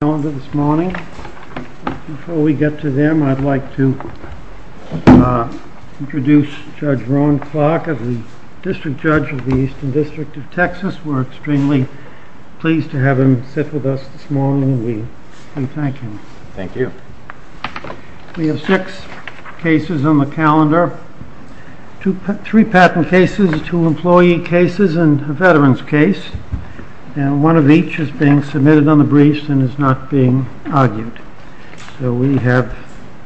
We have six cases on the calendar, three patent cases, two employee cases and a veterans case. And one of each is being submitted on the briefs and is not being argued. So we have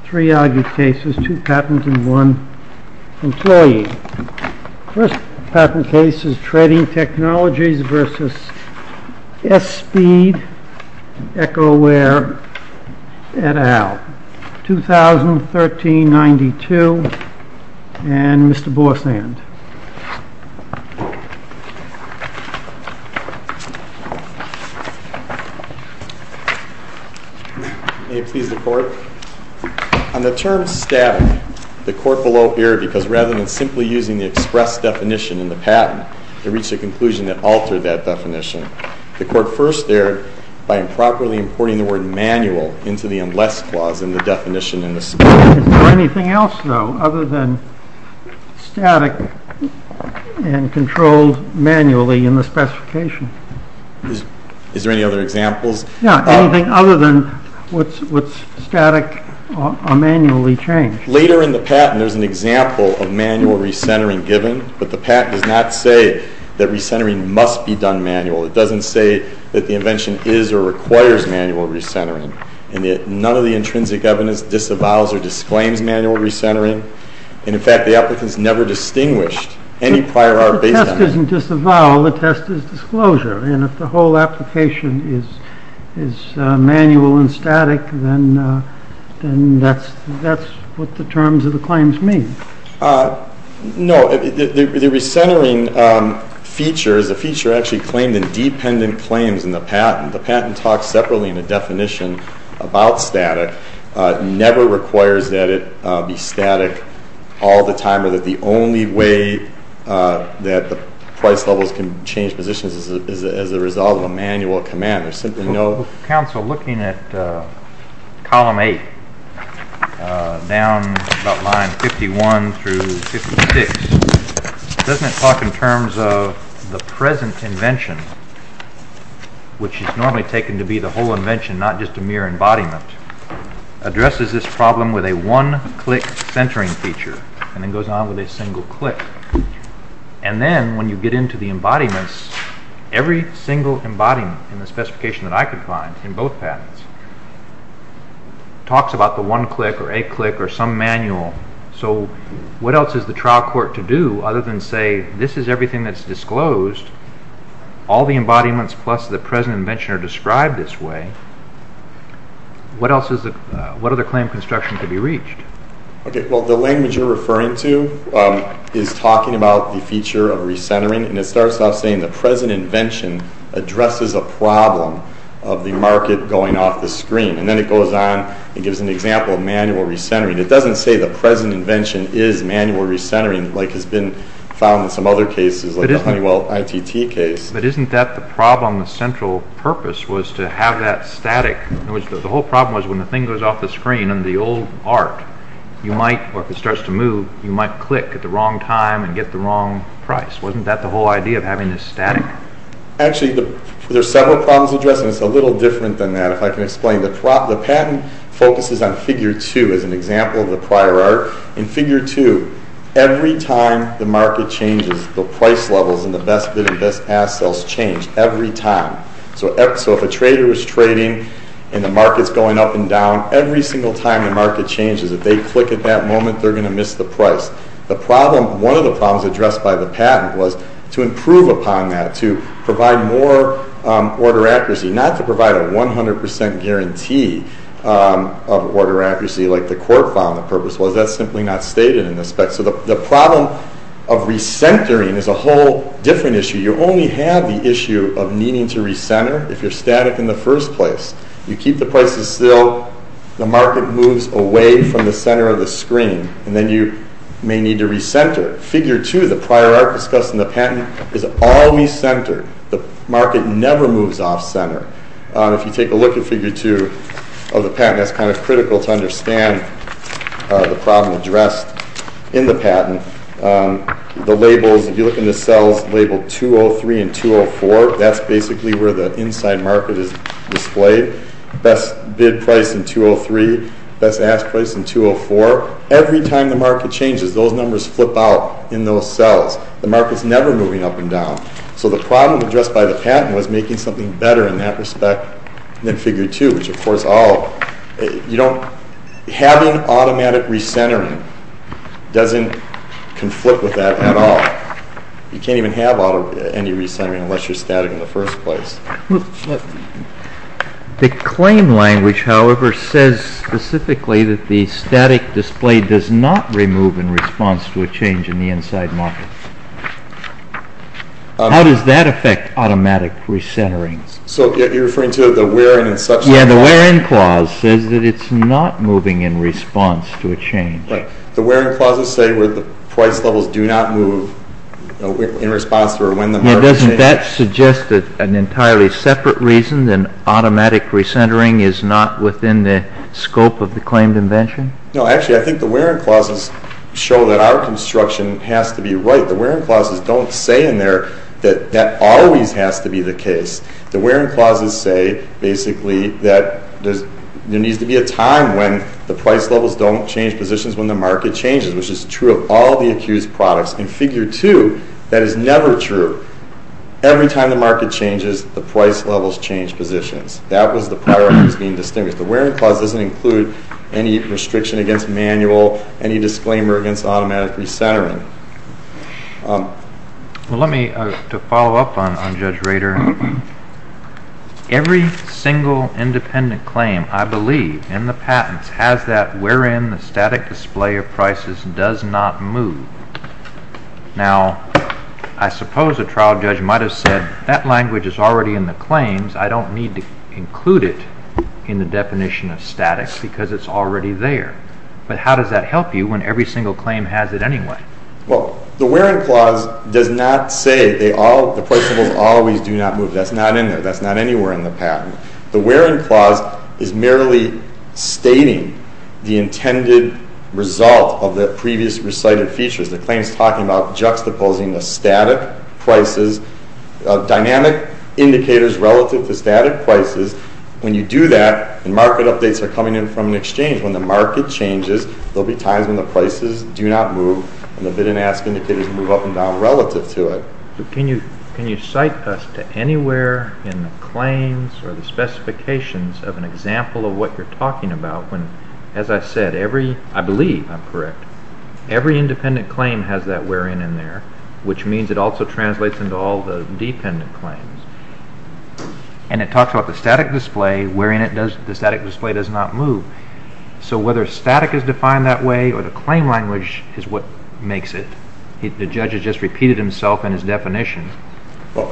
three argued cases, two patents and one employee. The first patent case is Trading Technologies v. Espeed, Ecoware, et al., 2013-92. And Mr. Bossand. On the term static, the court below here, because rather than simply using the express definition in the patent, they reached a conclusion that altered that definition. The court first there, by improperly importing the word manual into the unless clause in the definition in the statute. Is there anything else, though, other than static and controlled manually in the specification? Is there any other examples? Yeah, anything other than what's static or manually changed. Later in the patent, there's an example of manual recentering given, but the patent does not say that recentering must be done manual. It doesn't say that the invention is or requires manual recentering. And none of the intrinsic evidence disavows or disclaims manual recentering. And, in fact, the applicants never distinguished any prior art based on it. The test doesn't disavow. The test is disclosure. And if the whole application is manual and static, then that's what the terms of the claims mean. No. The recentering feature is a feature actually claimed in dependent claims in the patent. The patent talks separately in the definition about static. It never requires that it be static all the time, or that the only way that the price levels can change positions is as a result of a manual command. There's simply no- Counsel, looking at column 8, down about line 51 through 56, doesn't it talk in terms of the present invention, which is normally taken to be the whole invention, not just a mere embodiment, addresses this problem with a one-click centering feature, and then goes on with a single click. And then, when you get into the embodiments, every single embodiment in the specification that I could find in both patents talks about the one-click or a-click or some manual. So what else is the trial court to do other than say, this is everything that's disclosed, all the embodiments plus the present invention are described this way, what other claim construction could be reached? Okay, well, the language you're referring to is talking about the feature of recentering, and it starts off saying the present invention addresses a problem of the market going off the screen. And then it goes on and gives an example of manual recentering. It doesn't say the present invention is manual recentering, like has been found in some other cases, like the Honeywell ITT case. But isn't that the problem, the central purpose was to have that static? In other words, the whole problem was when the thing goes off the screen in the old art, you might, or if it starts to move, you might click at the wrong time and get the wrong price. Wasn't that the whole idea of having this static? Actually, there are several problems addressed, and it's a little different than that. If I can explain, the patent focuses on figure two as an example of the prior art. In figure two, every time the market changes, the price levels and the best bid and best ask sales change every time. So if a trader was trading and the market's going up and down, every single time the market changes, if they click at that moment, they're going to miss the price. One of the problems addressed by the patent was to improve upon that, to provide more order accuracy, not to provide a 100% guarantee of order accuracy like the court found the purpose was. That's simply not stated in the spec. So the problem of recentering is a whole different issue. You only have the issue of needing to recenter if you're static in the first place. You keep the prices still, the market moves away from the center of the screen, and then you may need to recenter. Figure two, the prior art discussed in the patent, is all recentered. The market never moves off center. If you take a look at figure two of the patent, that's kind of critical to understand the problem addressed in the patent. The labels, if you look in the cells labeled 203 and 204, that's basically where the inside market is displayed. Best bid price in 203, best ask price in 204. Every time the market changes, those numbers flip out in those cells. The market's never moving up and down. So the problem addressed by the patent was making something better in that respect than figure two, which, of course, having automatic recentering doesn't conflict with that at all. You can't even have any recentering unless you're static in the first place. The claim language, however, says specifically that the static display does not remove in response to a change in the inside market. How does that affect automatic recentering? So you're referring to the where-in and such? Yeah, the where-in clause says that it's not moving in response to a change. The where-in clauses say where the price levels do not move in response to or when the market changes? Yeah, doesn't that suggest an entirely separate reason that automatic recentering is not within the scope of the claimed invention? No, actually, I think the where-in clauses show that our construction has to be right. The where-in clauses don't say in there that that always has to be the case. The where-in clauses say, basically, that there needs to be a time when the price levels don't change positions when the market changes, which is true of all the accused products. In figure two, that is never true. Every time the market changes, the price levels change positions. That was the priority that was being distinguished. The where-in clause doesn't include any restriction against manual, any disclaimer against automatic recentering. Well, let me follow up on Judge Rader. Every single independent claim, I believe, in the patents has that where-in, the static display of prices does not move. Now, I suppose a trial judge might have said, that language is already in the claims. I don't need to include it in the definition of static because it's already there. But how does that help you when every single claim has it anyway? Well, the where-in clause does not say the price levels always do not move. That's not in there. That's not anywhere in the patent. The where-in clause is merely stating the intended result of the previous recited features. The claim is talking about juxtaposing the static prices, dynamic indicators relative to static prices. When you do that, the market updates are coming in from an exchange. When the market changes, there will be times when the prices do not move and the bid and ask indicators move up and down relative to it. Can you cite us to anywhere in the claims or the specifications of an example of what you're talking about? As I said, I believe I'm correct. Every independent claim has that where-in in there, which means it also translates into all the dependent claims. And it talks about the static display. Where-in, the static display does not move. So whether static is defined that way or the claim language is what makes it, the judge has just repeated himself in his definition.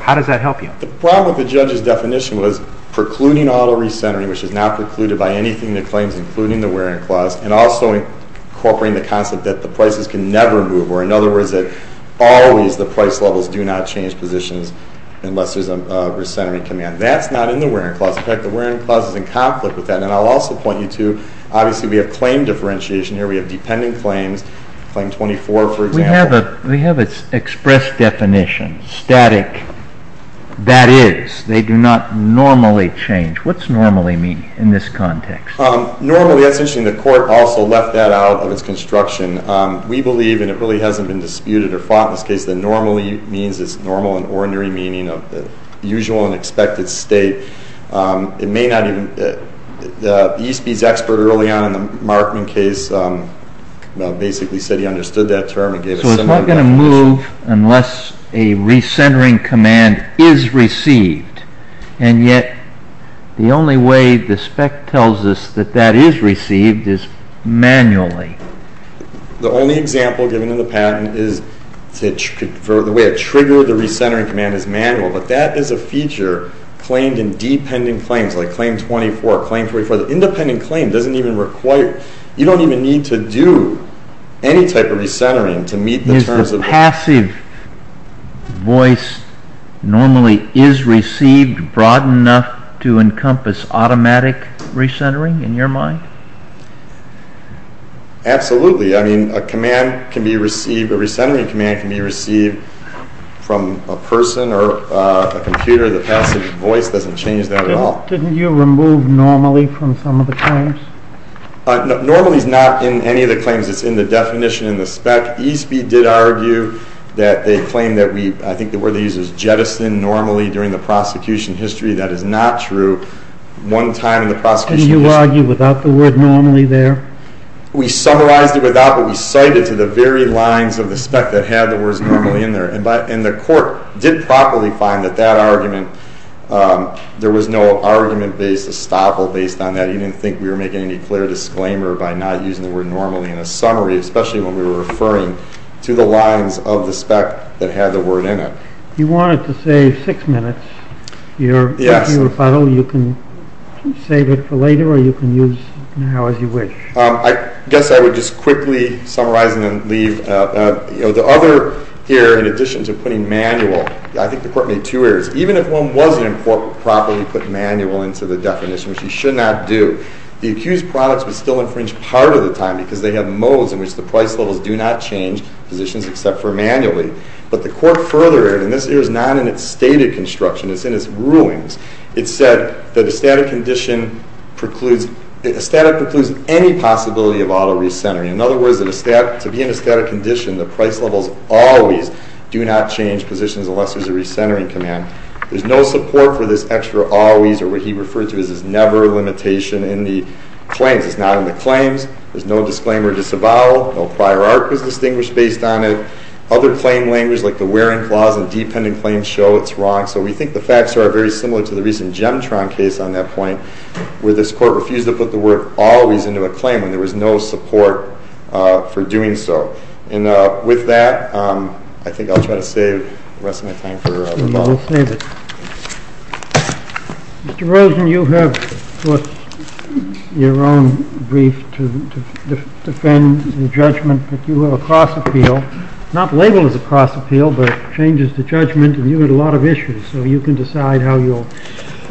How does that help you? The problem with the judge's definition was precluding auto recentering, which is not precluded by anything in the claims, including the where-in clause, and also incorporating the concept that the prices can never move, or in other words, that always the price levels do not change positions unless there's a recentering coming on. That's not in the where-in clause. In fact, the where-in clause is in conflict with that. And I'll also point you to, obviously, we have claim differentiation here. We have dependent claims, claim 24, for example. We have an express definition, static. That is, they do not normally change. What's normally mean in this context? Normally, that's interesting. The court also left that out of its construction. We believe, and it really hasn't been disputed or fought in this case, that normally means it's normal and ordinary meaning of the usual and expected state. It may not even, the ESPYS expert early on in the Markman case basically said he understood that term. So it's not going to move unless a recentering command is received. And yet, the only way the spec tells us that that is received is manually. The only example given in the patent is the way it triggered the recentering command is manual. But that is a feature claimed in dependent claims, like claim 24, claim 24. The independent claim doesn't even require, you don't even need to do any type of recentering to meet the terms. Is the passive voice normally is received broad enough to encompass automatic recentering in your mind? Absolutely. I mean, a command can be received, a recentering command can be received from a person or a computer. The passive voice doesn't change that at all. Didn't you remove normally from some of the claims? Normally is not in any of the claims. It's in the definition in the spec. ESPYS did argue that they claimed that we, I think the word they used was jettison normally during the prosecution history. That is not true. One time in the prosecution history. Did you argue without the word normally there? We summarized it without, but we cited to the very lines of the spec that had the words normally in there. And the court did properly find that that argument, there was no argument based, estoppel based on that. He didn't think we were making any clear disclaimer by not using the word normally in a summary, especially when we were referring to the lines of the spec that had the word in it. You wanted to save six minutes. Yes. You can save it for later or you can use now as you wish. I guess I would just quickly summarize and then leave. The other here, in addition to putting manual, I think the court made two errors. Even if one wasn't properly put manual into the definition, which you should not do, the accused products would still infringe part of the time because they have modes in which the price levels do not change positions except for manually. But the court furthered, and this here is not in its stated construction. It's in its rulings. It said that a static precludes any possibility of auto recentering. In other words, to be in a static condition, the price levels always do not change positions unless there's a recentering command. There's no support for this extra always or what he referred to as this never limitation in the claims. It's not in the claims. There's no disclaimer disavowal. No prior art was distinguished based on it. Other claim language like the wearing clause and dependent claims show it's wrong. So we think the facts are very similar to the recent Gemtron case on that point where this court refused to put the word always into a claim when there was no support for doing so. And with that, I think I'll try to save the rest of my time for the ball. I will save it. Mr. Rosen, you have put your own brief to defend the judgment, but you have a cross appeal. It's not labeled as a cross appeal, but it changes the judgment, and you had a lot of issues. So you can decide how you'll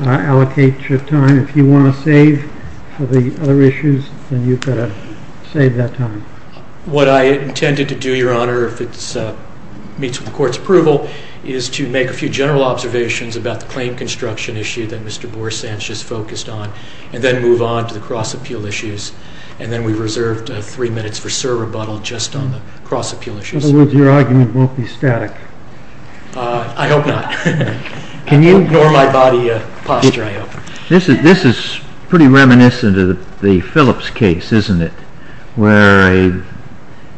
allocate your time. If you want to save for the other issues, then you've got to save that time. What I intended to do, Your Honor, if it meets with the court's approval, is to make a few general observations about the claim construction issue that Mr. Borsan just focused on, and then move on to the cross appeal issues. And then we reserved three minutes for Sir rebuttal just on the cross appeal issues. In other words, your argument won't be static. I hope not. Can you ignore my body of posture, I hope? This is pretty reminiscent of the Phillips case, isn't it? Where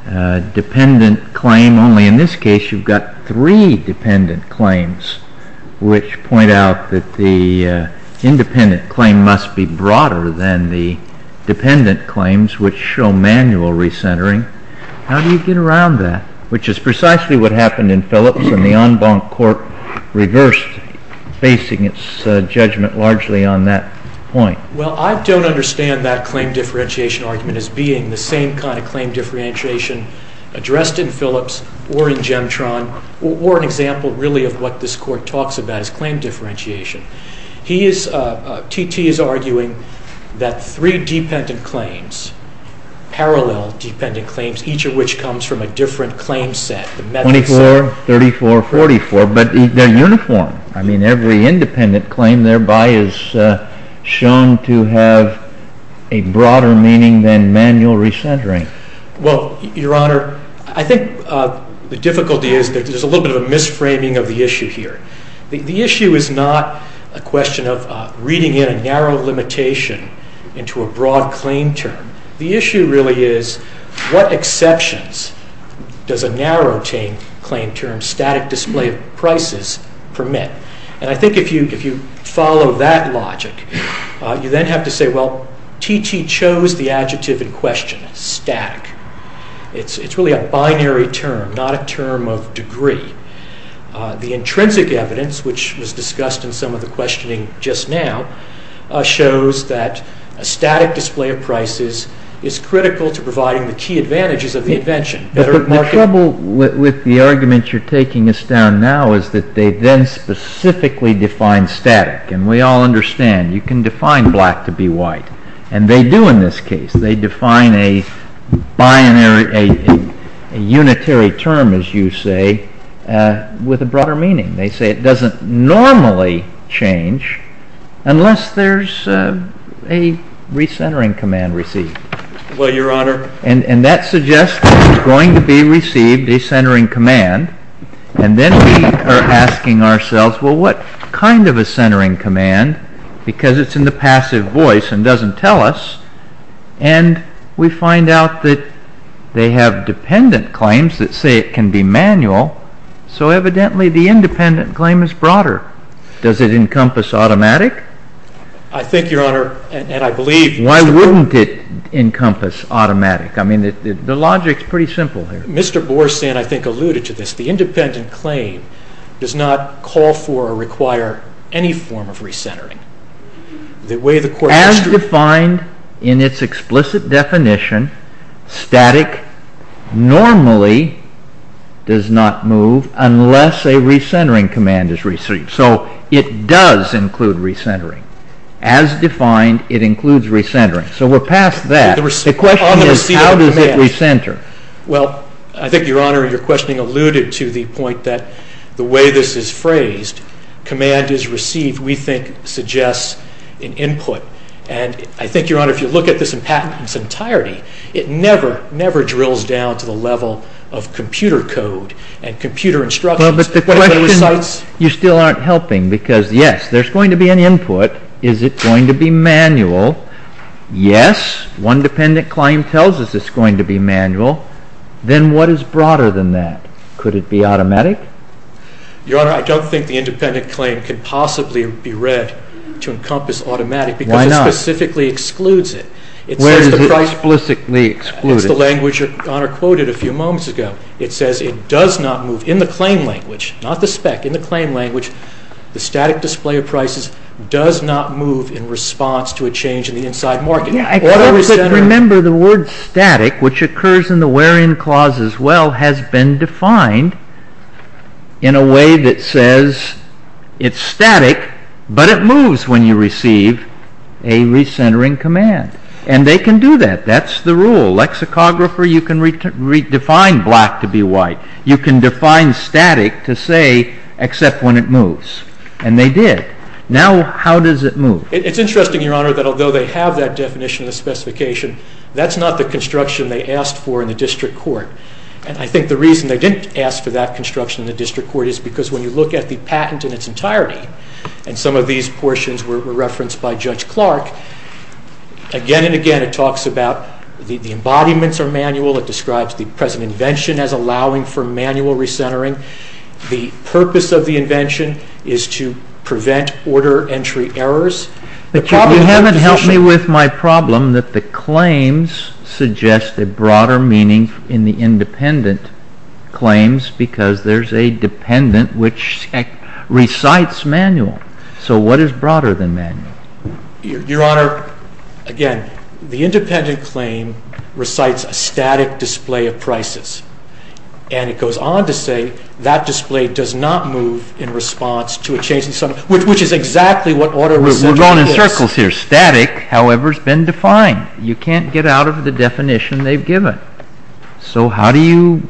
a dependent claim, only in this case you've got three dependent claims, which point out that the independent claim must be broader than the dependent claims, which show manual recentering. How do you get around that? Which is precisely what happened in Phillips, and the en banc court reversed, basing its judgment largely on that point. Well, I don't understand that claim differentiation argument as being the same kind of claim differentiation addressed in Phillips or in Gemtron, or an example, really, of what this court talks about as claim differentiation. T.T. is arguing that three dependent claims, parallel dependent claims, each of which comes from a different claim set. 24, 34, 44. But they're uniform. I mean, every independent claim thereby is shown to have a broader meaning than manual recentering. Well, Your Honor, I think the difficulty is that there's a little bit of a misframing of the issue here. The issue is not a question of reading in a narrow limitation into a broad claim term. The issue really is what exceptions does a narrow claim term, static display of prices, permit? And I think if you follow that logic, you then have to say, well, T.T. chose the adjective in question, static. It's really a binary term, not a term of degree. The intrinsic evidence, which was discussed in some of the questioning just now, shows that a static display of prices is critical to providing the key advantages of the invention. But the trouble with the argument you're taking us down now is that they then specifically define static, and we all understand you can define black to be white, and they do in this case. They define a unitary term, as you say, with a broader meaning. They say it doesn't normally change unless there's a recentering command received. Well, Your Honor. And that suggests that it's going to be received, a centering command, and then we are asking ourselves, well, what kind of a centering command? Because it's in the passive voice and doesn't tell us, and we find out that they have dependent claims that say it can be manual, so evidently the independent claim is broader. Does it encompass automatic? I think, Your Honor, and I believe. Why wouldn't it encompass automatic? I mean, the logic's pretty simple here. Mr. Borsan, I think, alluded to this. The independent claim does not call for or require any form of recentering. As defined in its explicit definition, static normally does not move unless a recentering command is received. So it does include recentering. As defined, it includes recentering. So we're past that. The question is how does it recenter? Well, I think, Your Honor, your questioning alluded to the point that the way this is phrased, command is received, we think, suggests an input. And I think, Your Honor, if you look at this in its entirety, it never, never drills down to the level of computer code and computer instructions. Well, but the question, you still aren't helping because, yes, there's going to be an input. Is it going to be manual? Yes. One dependent claim tells us it's going to be manual. Then what is broader than that? Could it be automatic? Your Honor, I don't think the independent claim can possibly be read to encompass automatic. Why not? Because it specifically excludes it. Where does it explicitly exclude it? It's the language Your Honor quoted a few moments ago. It says it does not move. In the claim language, not the spec, in the claim language, the static display of prices does not move in response to a change in the inside market. Yeah, I couldn't remember the word static, which occurs in the where-in clause as well, has been defined in a way that says it's static, but it moves when you receive a recentering command. And they can do that. That's the rule. Lexicographer, you can redefine black to be white. You can define static to say except when it moves. And they did. Now how does it move? It's interesting, Your Honor, that although they have that definition of the specification, that's not the construction they asked for in the district court. And I think the reason they didn't ask for that construction in the district court is because when you look at the patent in its entirety, and some of these portions were referenced by Judge Clark, again and again it talks about the embodiments are manual. It describes the present invention as allowing for manual recentering. The purpose of the invention is to prevent order entry errors. But you haven't helped me with my problem that the claims suggest a broader meaning in the independent claims because there's a dependent which recites manual. So what is broader than manual? Your Honor, again, the independent claim recites a static display of prices. And it goes on to say that display does not move in response to a change in something, which is exactly what order recentering is. We're going in circles here. Static, however, has been defined. You can't get out of the definition they've given. So how do you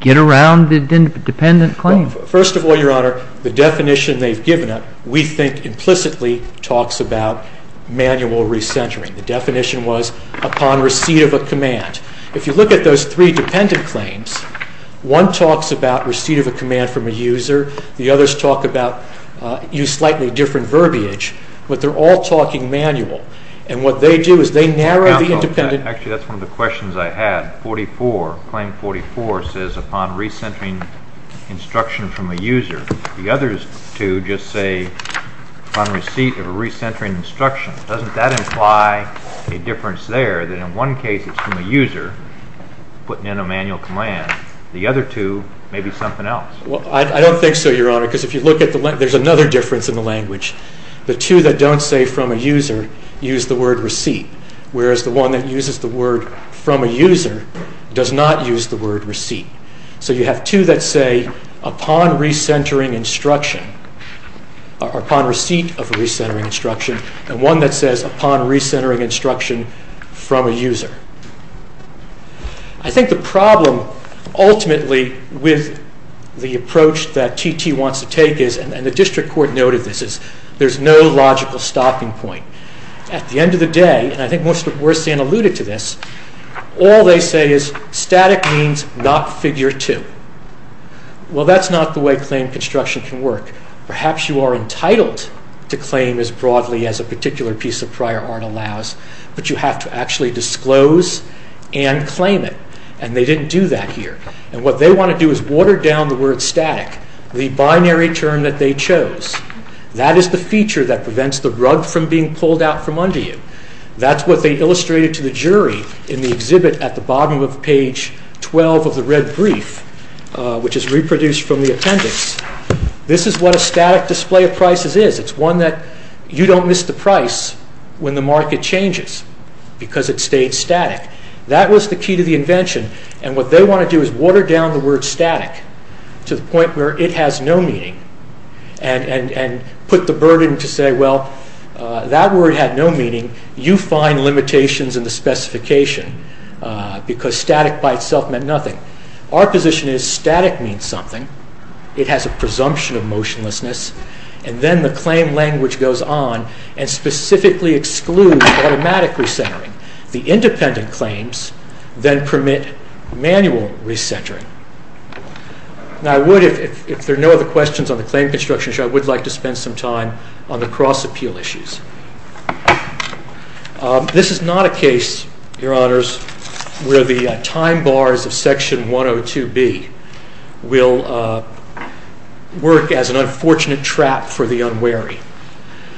get around the dependent claim? First of all, Your Honor, the definition they've given, we think implicitly talks about manual recentering. The definition was upon receipt of a command. If you look at those three dependent claims, one talks about receipt of a command from a user. The others talk about slightly different verbiage. But they're all talking manual. And what they do is they narrow the independent. Actually, that's one of the questions I had. Claim 44 says upon recentering instruction from a user. The others two just say upon receipt of a recentering instruction. Doesn't that imply a difference there, that in one case it's from a user putting in a manual command? The other two may be something else. I don't think so, Your Honor, because if you look at the language, there's another difference in the language. The two that don't say from a user use the word receipt, whereas the one that uses the word from a user does not use the word receipt. So you have two that say upon recentering instruction, or upon receipt of a recentering instruction, and one that says upon recentering instruction from a user. I think the problem ultimately with the approach that TT wants to take is, and the district court noted this, is there's no logical stopping point. At the end of the day, and I think most of where Stan alluded to this, all they say is static means not figure two. Well, that's not the way claim construction can work. Perhaps you are entitled to claim as broadly as a particular piece of prior art allows, but you have to actually disclose and claim it, and they didn't do that here. And what they want to do is water down the word static, the binary term that they chose. That is the feature that prevents the rug from being pulled out from under you. That's what they illustrated to the jury in the exhibit at the bottom of page 12 of the red brief, which is reproduced from the appendix. This is what a static display of prices is. It's one that you don't miss the price when the market changes because it stayed static. That was the key to the invention, and what they want to do is water down the word static to the point where it has no meaning, and put the burden to say, well, that word had no meaning. You find limitations in the specification because static by itself meant nothing. Our position is static means something. It has a presumption of motionlessness, and then the claim language goes on and specifically excludes automatic recentering. The independent claims then permit manual recentering. Now, I would, if there are no other questions on the claim construction issue, I would like to spend some time on the cross-appeal issues. This is not a case, Your Honors, where the time bars of Section 102B will work as an unfortunate trap for the unwary.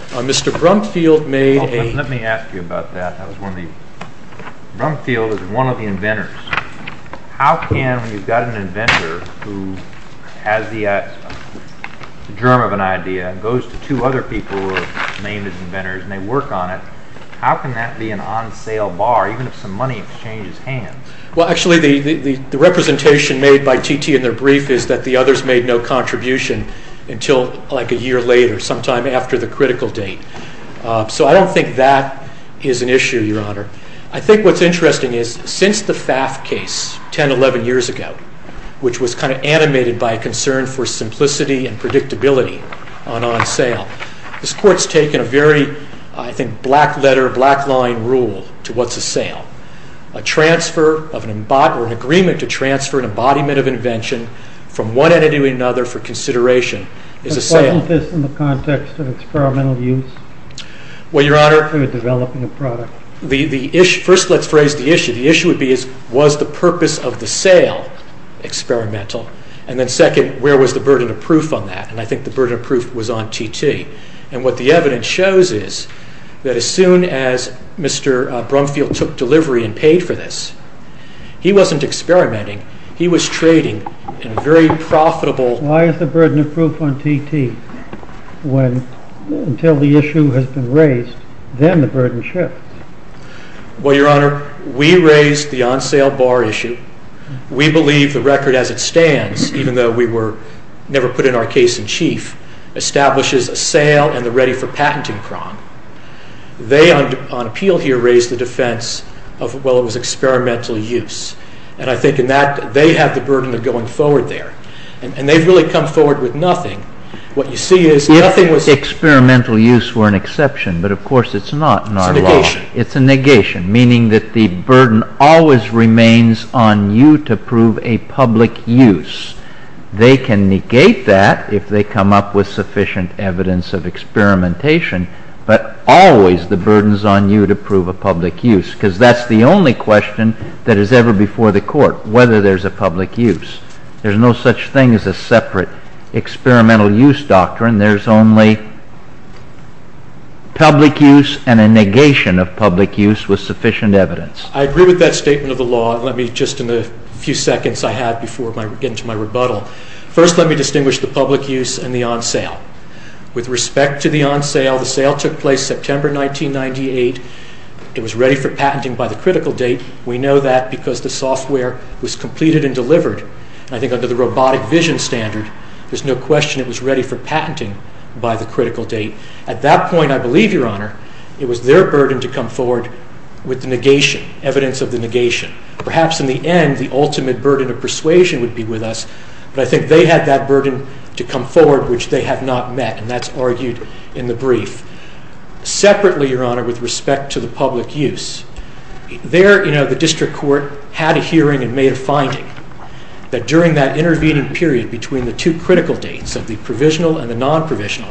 Mr. Brumfield made a... Let me ask you about that. Brumfield is one of the inventors. How can, when you've got an inventor who has the germ of an idea and goes to two other people who are named as inventors and they work on it, how can that be an on-sale bar, even if some money exchanges hands? Well, actually, the representation made by T.T. in their brief is that the others made no contribution until like a year later, sometime after the critical date. So I don't think that is an issue, Your Honor. I think what's interesting is, since the Pfaff case, 10, 11 years ago, which was kind of animated by a concern for simplicity and predictability on on-sale, this Court's taken a very, I think, black letter, black line rule to what's a sale. A transfer of an embodiment, an agreement to transfer an embodiment of invention from one entity to another for consideration is a sale. But wasn't this in the context of experimental use? Well, Your Honor, Developing a product. First, let's raise the issue. The issue would be, was the purpose of the sale experimental? And then second, where was the burden of proof on that? And I think the burden of proof was on T.T. And what the evidence shows is that as soon as Mr. Brumfield took delivery and paid for this, he wasn't experimenting, he was trading in a very profitable Why is the burden of proof on T.T.? Until the issue has been raised, then the burden shifts. Well, Your Honor, we raised the on-sale bar issue. We believe the record as it stands, even though we were never put in our case in chief, establishes a sale and the ready for patenting prong. They, on appeal here, raised the defense of, well, it was experimental use. And I think in that, they have the burden of going forward there. And they've really come forward with nothing. If experimental use were an exception, but of course it's not in our law. It's a negation. It's a negation, meaning that the burden always remains on you to prove a public use. They can negate that if they come up with sufficient evidence of experimentation, but always the burden is on you to prove a public use, because that's the only question that is ever before the court, whether there's a public use. There's no such thing as a separate experimental use doctrine. There's only public use and a negation of public use with sufficient evidence. I agree with that statement of the law. Let me, just in the few seconds I have before I get into my rebuttal, first let me distinguish the public use and the on-sale. With respect to the on-sale, the sale took place September 1998. It was ready for patenting by the critical date. We know that because the software was completed and delivered. I think under the robotic vision standard, there's no question it was ready for patenting by the critical date. At that point, I believe, Your Honor, it was their burden to come forward with the negation, evidence of the negation. Perhaps in the end, the ultimate burden of persuasion would be with us, but I think they had that burden to come forward, which they have not met, and that's argued in the brief. Separately, Your Honor, with respect to the public use, there the district court had a hearing and made a finding that during that intervening period between the two critical dates, the provisional and the non-provisional,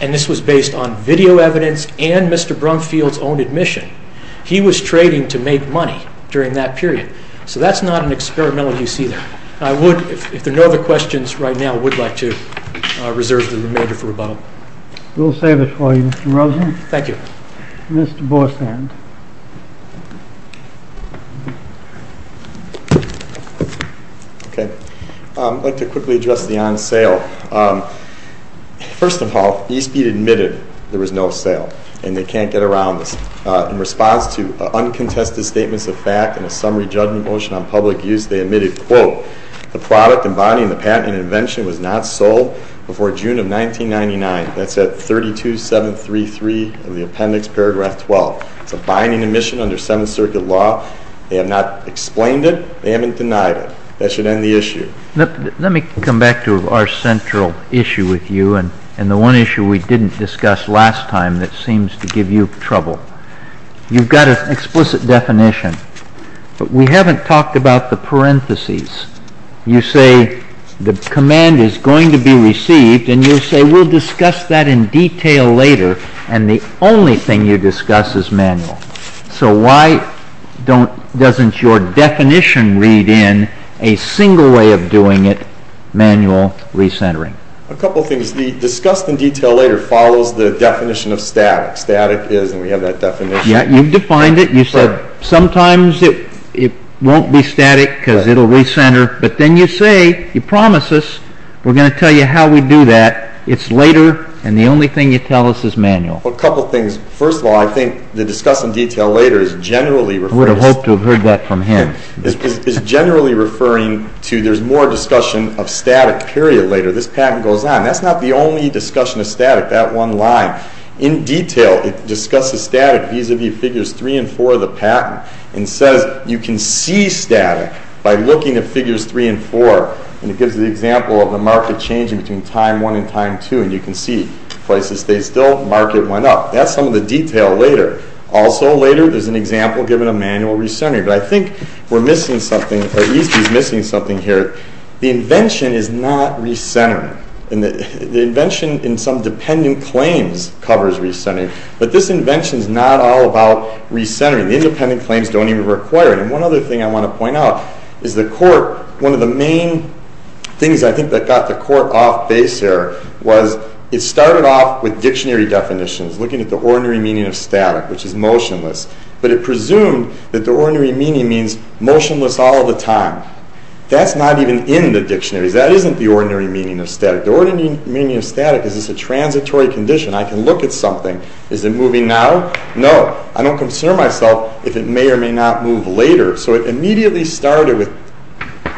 and this was based on video evidence and Mr. Brumfield's own admission, he was trading to make money during that period. So that's not an experimental use either. If there are no other questions right now, I would like to reserve the remainder for rebuttal. We'll save it for you, Mr. Rosen. Thank you. Mr. Bosand. Okay. I'd like to quickly address the on sale. First of all, E-Speed admitted there was no sale and they can't get around this. In response to uncontested statements of fact and a summary judgment motion on public use, they admitted, quote, the product and body and the patent and invention was not sold before June of 1999. That's at 32-733 of the appendix paragraph 12. It's a binding admission under Seventh Circuit law. They have not explained it. They haven't denied it. That should end the issue. Let me come back to our central issue with you and the one issue we didn't discuss last time that seems to give you trouble. You've got an explicit definition, but we haven't talked about the parentheses. You say the command is going to be received, and you say we'll discuss that in detail later, and the only thing you discuss is manual. So why doesn't your definition read in a single way of doing it, manual recentering? A couple of things. The discussed in detail later follows the definition of static. Static is, and we have that definition. Yeah, you've defined it. You said sometimes it won't be static because it'll recenter, but then you say, you promise us, we're going to tell you how we do that. It's later, and the only thing you tell us is manual. Well, a couple of things. First of all, I think the discussed in detail later is generally referring. I would have hoped to have heard that from him. It's generally referring to there's more discussion of static, period, later. This patent goes on. That's not the only discussion of static, that one line. In detail, it discusses static vis-à-vis figures 3 and 4 of the patent and says you can see static by looking at figures 3 and 4, and it gives the example of the market changing between time 1 and time 2, and you can see prices stay still, market went up. That's some of the detail later. Also later, there's an example given of manual recentering, but I think we're missing something, or East is missing something here. The invention is not recentering, and the invention in some dependent claims covers recentering, but this invention is not all about recentering. The independent claims don't even require it, and one other thing I want to point out is the court, one of the main things I think that got the court off base here was it started off with dictionary definitions, looking at the ordinary meaning of static, which is motionless, but it presumed that the ordinary meaning means motionless all the time. That's not even in the dictionaries. That isn't the ordinary meaning of static. The ordinary meaning of static is it's a transitory condition. I can look at something. Is it moving now? No. I don't concern myself if it may or may not move later, so it immediately started with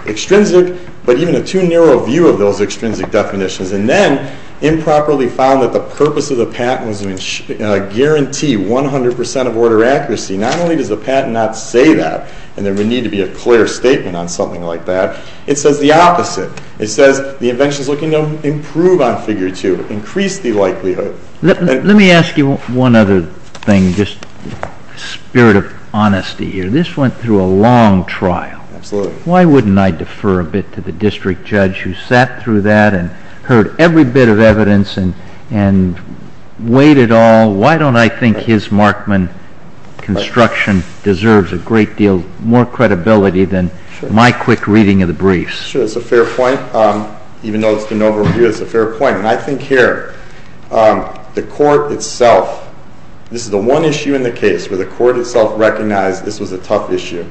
extrinsic, but even a too narrow view of those extrinsic definitions, and then improperly found that the purpose of the patent was to guarantee 100% of order accuracy. Not only does the patent not say that, and there would need to be a clear statement on something like that, it says the opposite. It says the invention is looking to improve on figure two, increase the likelihood. Let me ask you one other thing, just in the spirit of honesty here. This went through a long trial. Absolutely. Why wouldn't I defer a bit to the district judge who sat through that and heard every bit of evidence and weighed it all? Why don't I think his Markman construction deserves a great deal more credibility than my quick reading of the briefs? Sure, that's a fair point. Even though it's been overreviewed, it's a fair point. I think here the court itself, this is the one issue in the case where the court itself recognized this was a tough issue.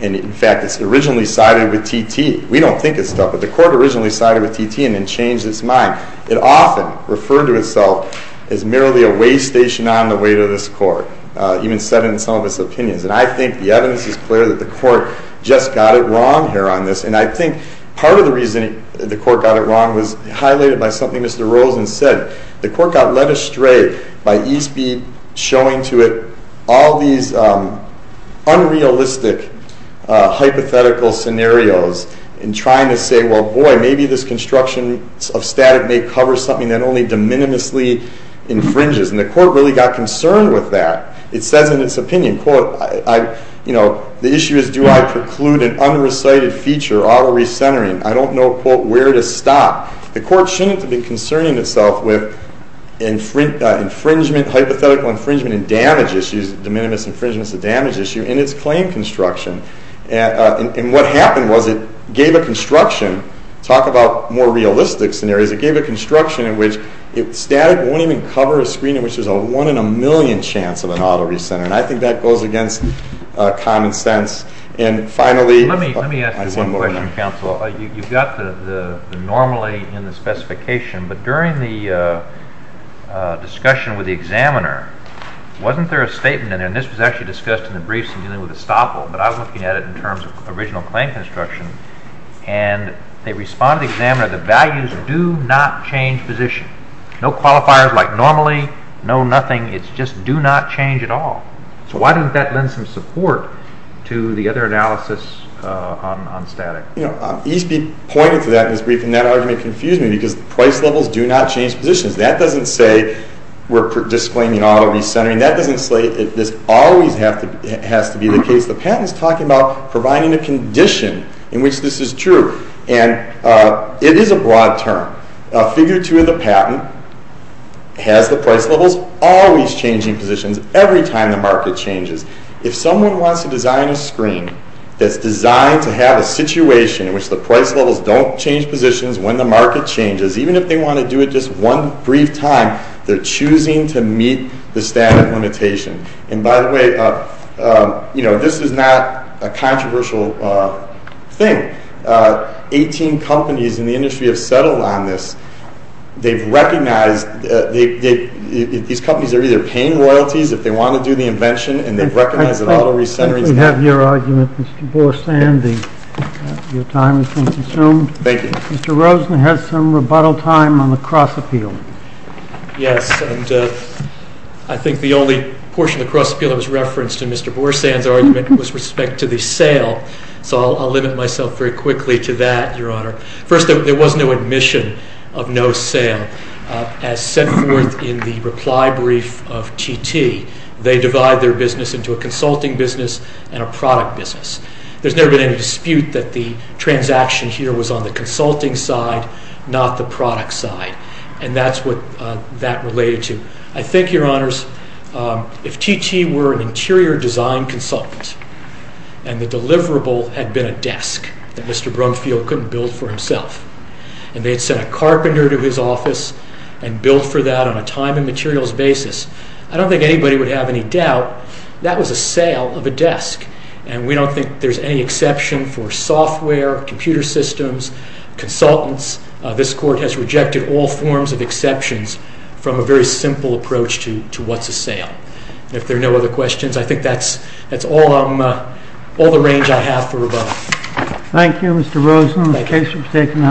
In fact, it originally sided with T.T. We don't think it's tough, but the court originally sided with T.T. and then changed its mind. It often referred to itself as merely a way station on the way to this court, even said in some of its opinions. And I think the evidence is clear that the court just got it wrong here on this. And I think part of the reason the court got it wrong was highlighted by something Mr. Rosen said. The court got led astray by Eastby showing to it all these unrealistic hypothetical scenarios and trying to say, well, boy, maybe this construction of static may cover something that only de minimisly infringes. And the court really got concerned with that. It says in its opinion, quote, you know, the issue is do I preclude an unrecited feature, auto recentering? I don't know, quote, where to stop. The court shouldn't be concerning itself with infringement, hypothetical infringement, and damage issues, de minimis infringement is a damage issue, in its claim construction. And what happened was it gave a construction, talk about more realistic scenarios, it gave a construction in which static won't even cover a screen in which there's a one in a million chance of an auto recenter. And I think that goes against common sense. Let me ask you one more question, counsel. You've got the normally in the specification, but during the discussion with the examiner, wasn't there a statement in there, and this was actually discussed in the briefs in dealing with estoppel, but I was looking at it in terms of original claim construction, and they respond to the examiner, the values do not change position. No qualifiers like normally, no nothing, it's just do not change at all. So why didn't that lend some support to the other analysis on static? You know, Eastby pointed to that in his brief, and that argument confused me, because price levels do not change positions. That doesn't say we're disclaiming auto recentering. That doesn't say this always has to be the case. The patent is talking about providing a condition in which this is true. And it is a broad term. Figure two of the patent has the price levels always changing positions every time the market changes. If someone wants to design a screen that's designed to have a situation in which the price levels don't change positions when the market changes, even if they want to do it just one brief time, they're choosing to meet the static limitation. And by the way, you know, this is not a controversial thing. Eighteen companies in the industry have settled on this. They've recognized these companies are either paying royalties if they want to do the invention, and they've recognized that auto recentering. We have your argument, Mr. Borsan. Your time has been consumed. Thank you. Mr. Rosen has some rebuttal time on the cross-appeal. Yes, and I think the only portion of the cross-appeal that was referenced in Mr. Borsan's argument was respect to the sale. So I'll limit myself very quickly to that, Your Honor. First, there was no admission of no sale. As set forth in the reply brief of TT, they divide their business into a consulting business and a product business. There's never been any dispute that the transaction here was on the consulting side, not the product side, and that's what that related to. I think, Your Honors, if TT were an interior design consultant and the deliverable had been a desk that Mr. Brumfield couldn't build for himself, and they had sent a carpenter to his office and built for that on a time and materials basis, I don't think anybody would have any doubt that was a sale of a desk. And we don't think there's any exception for software, computer systems, consultants. This Court has rejected all forms of exceptions from a very simple approach to what's a sale. If there are no other questions, I think that's all the range I have for rebuttal. Thank you, Mr. Rosen. The case is taken under review.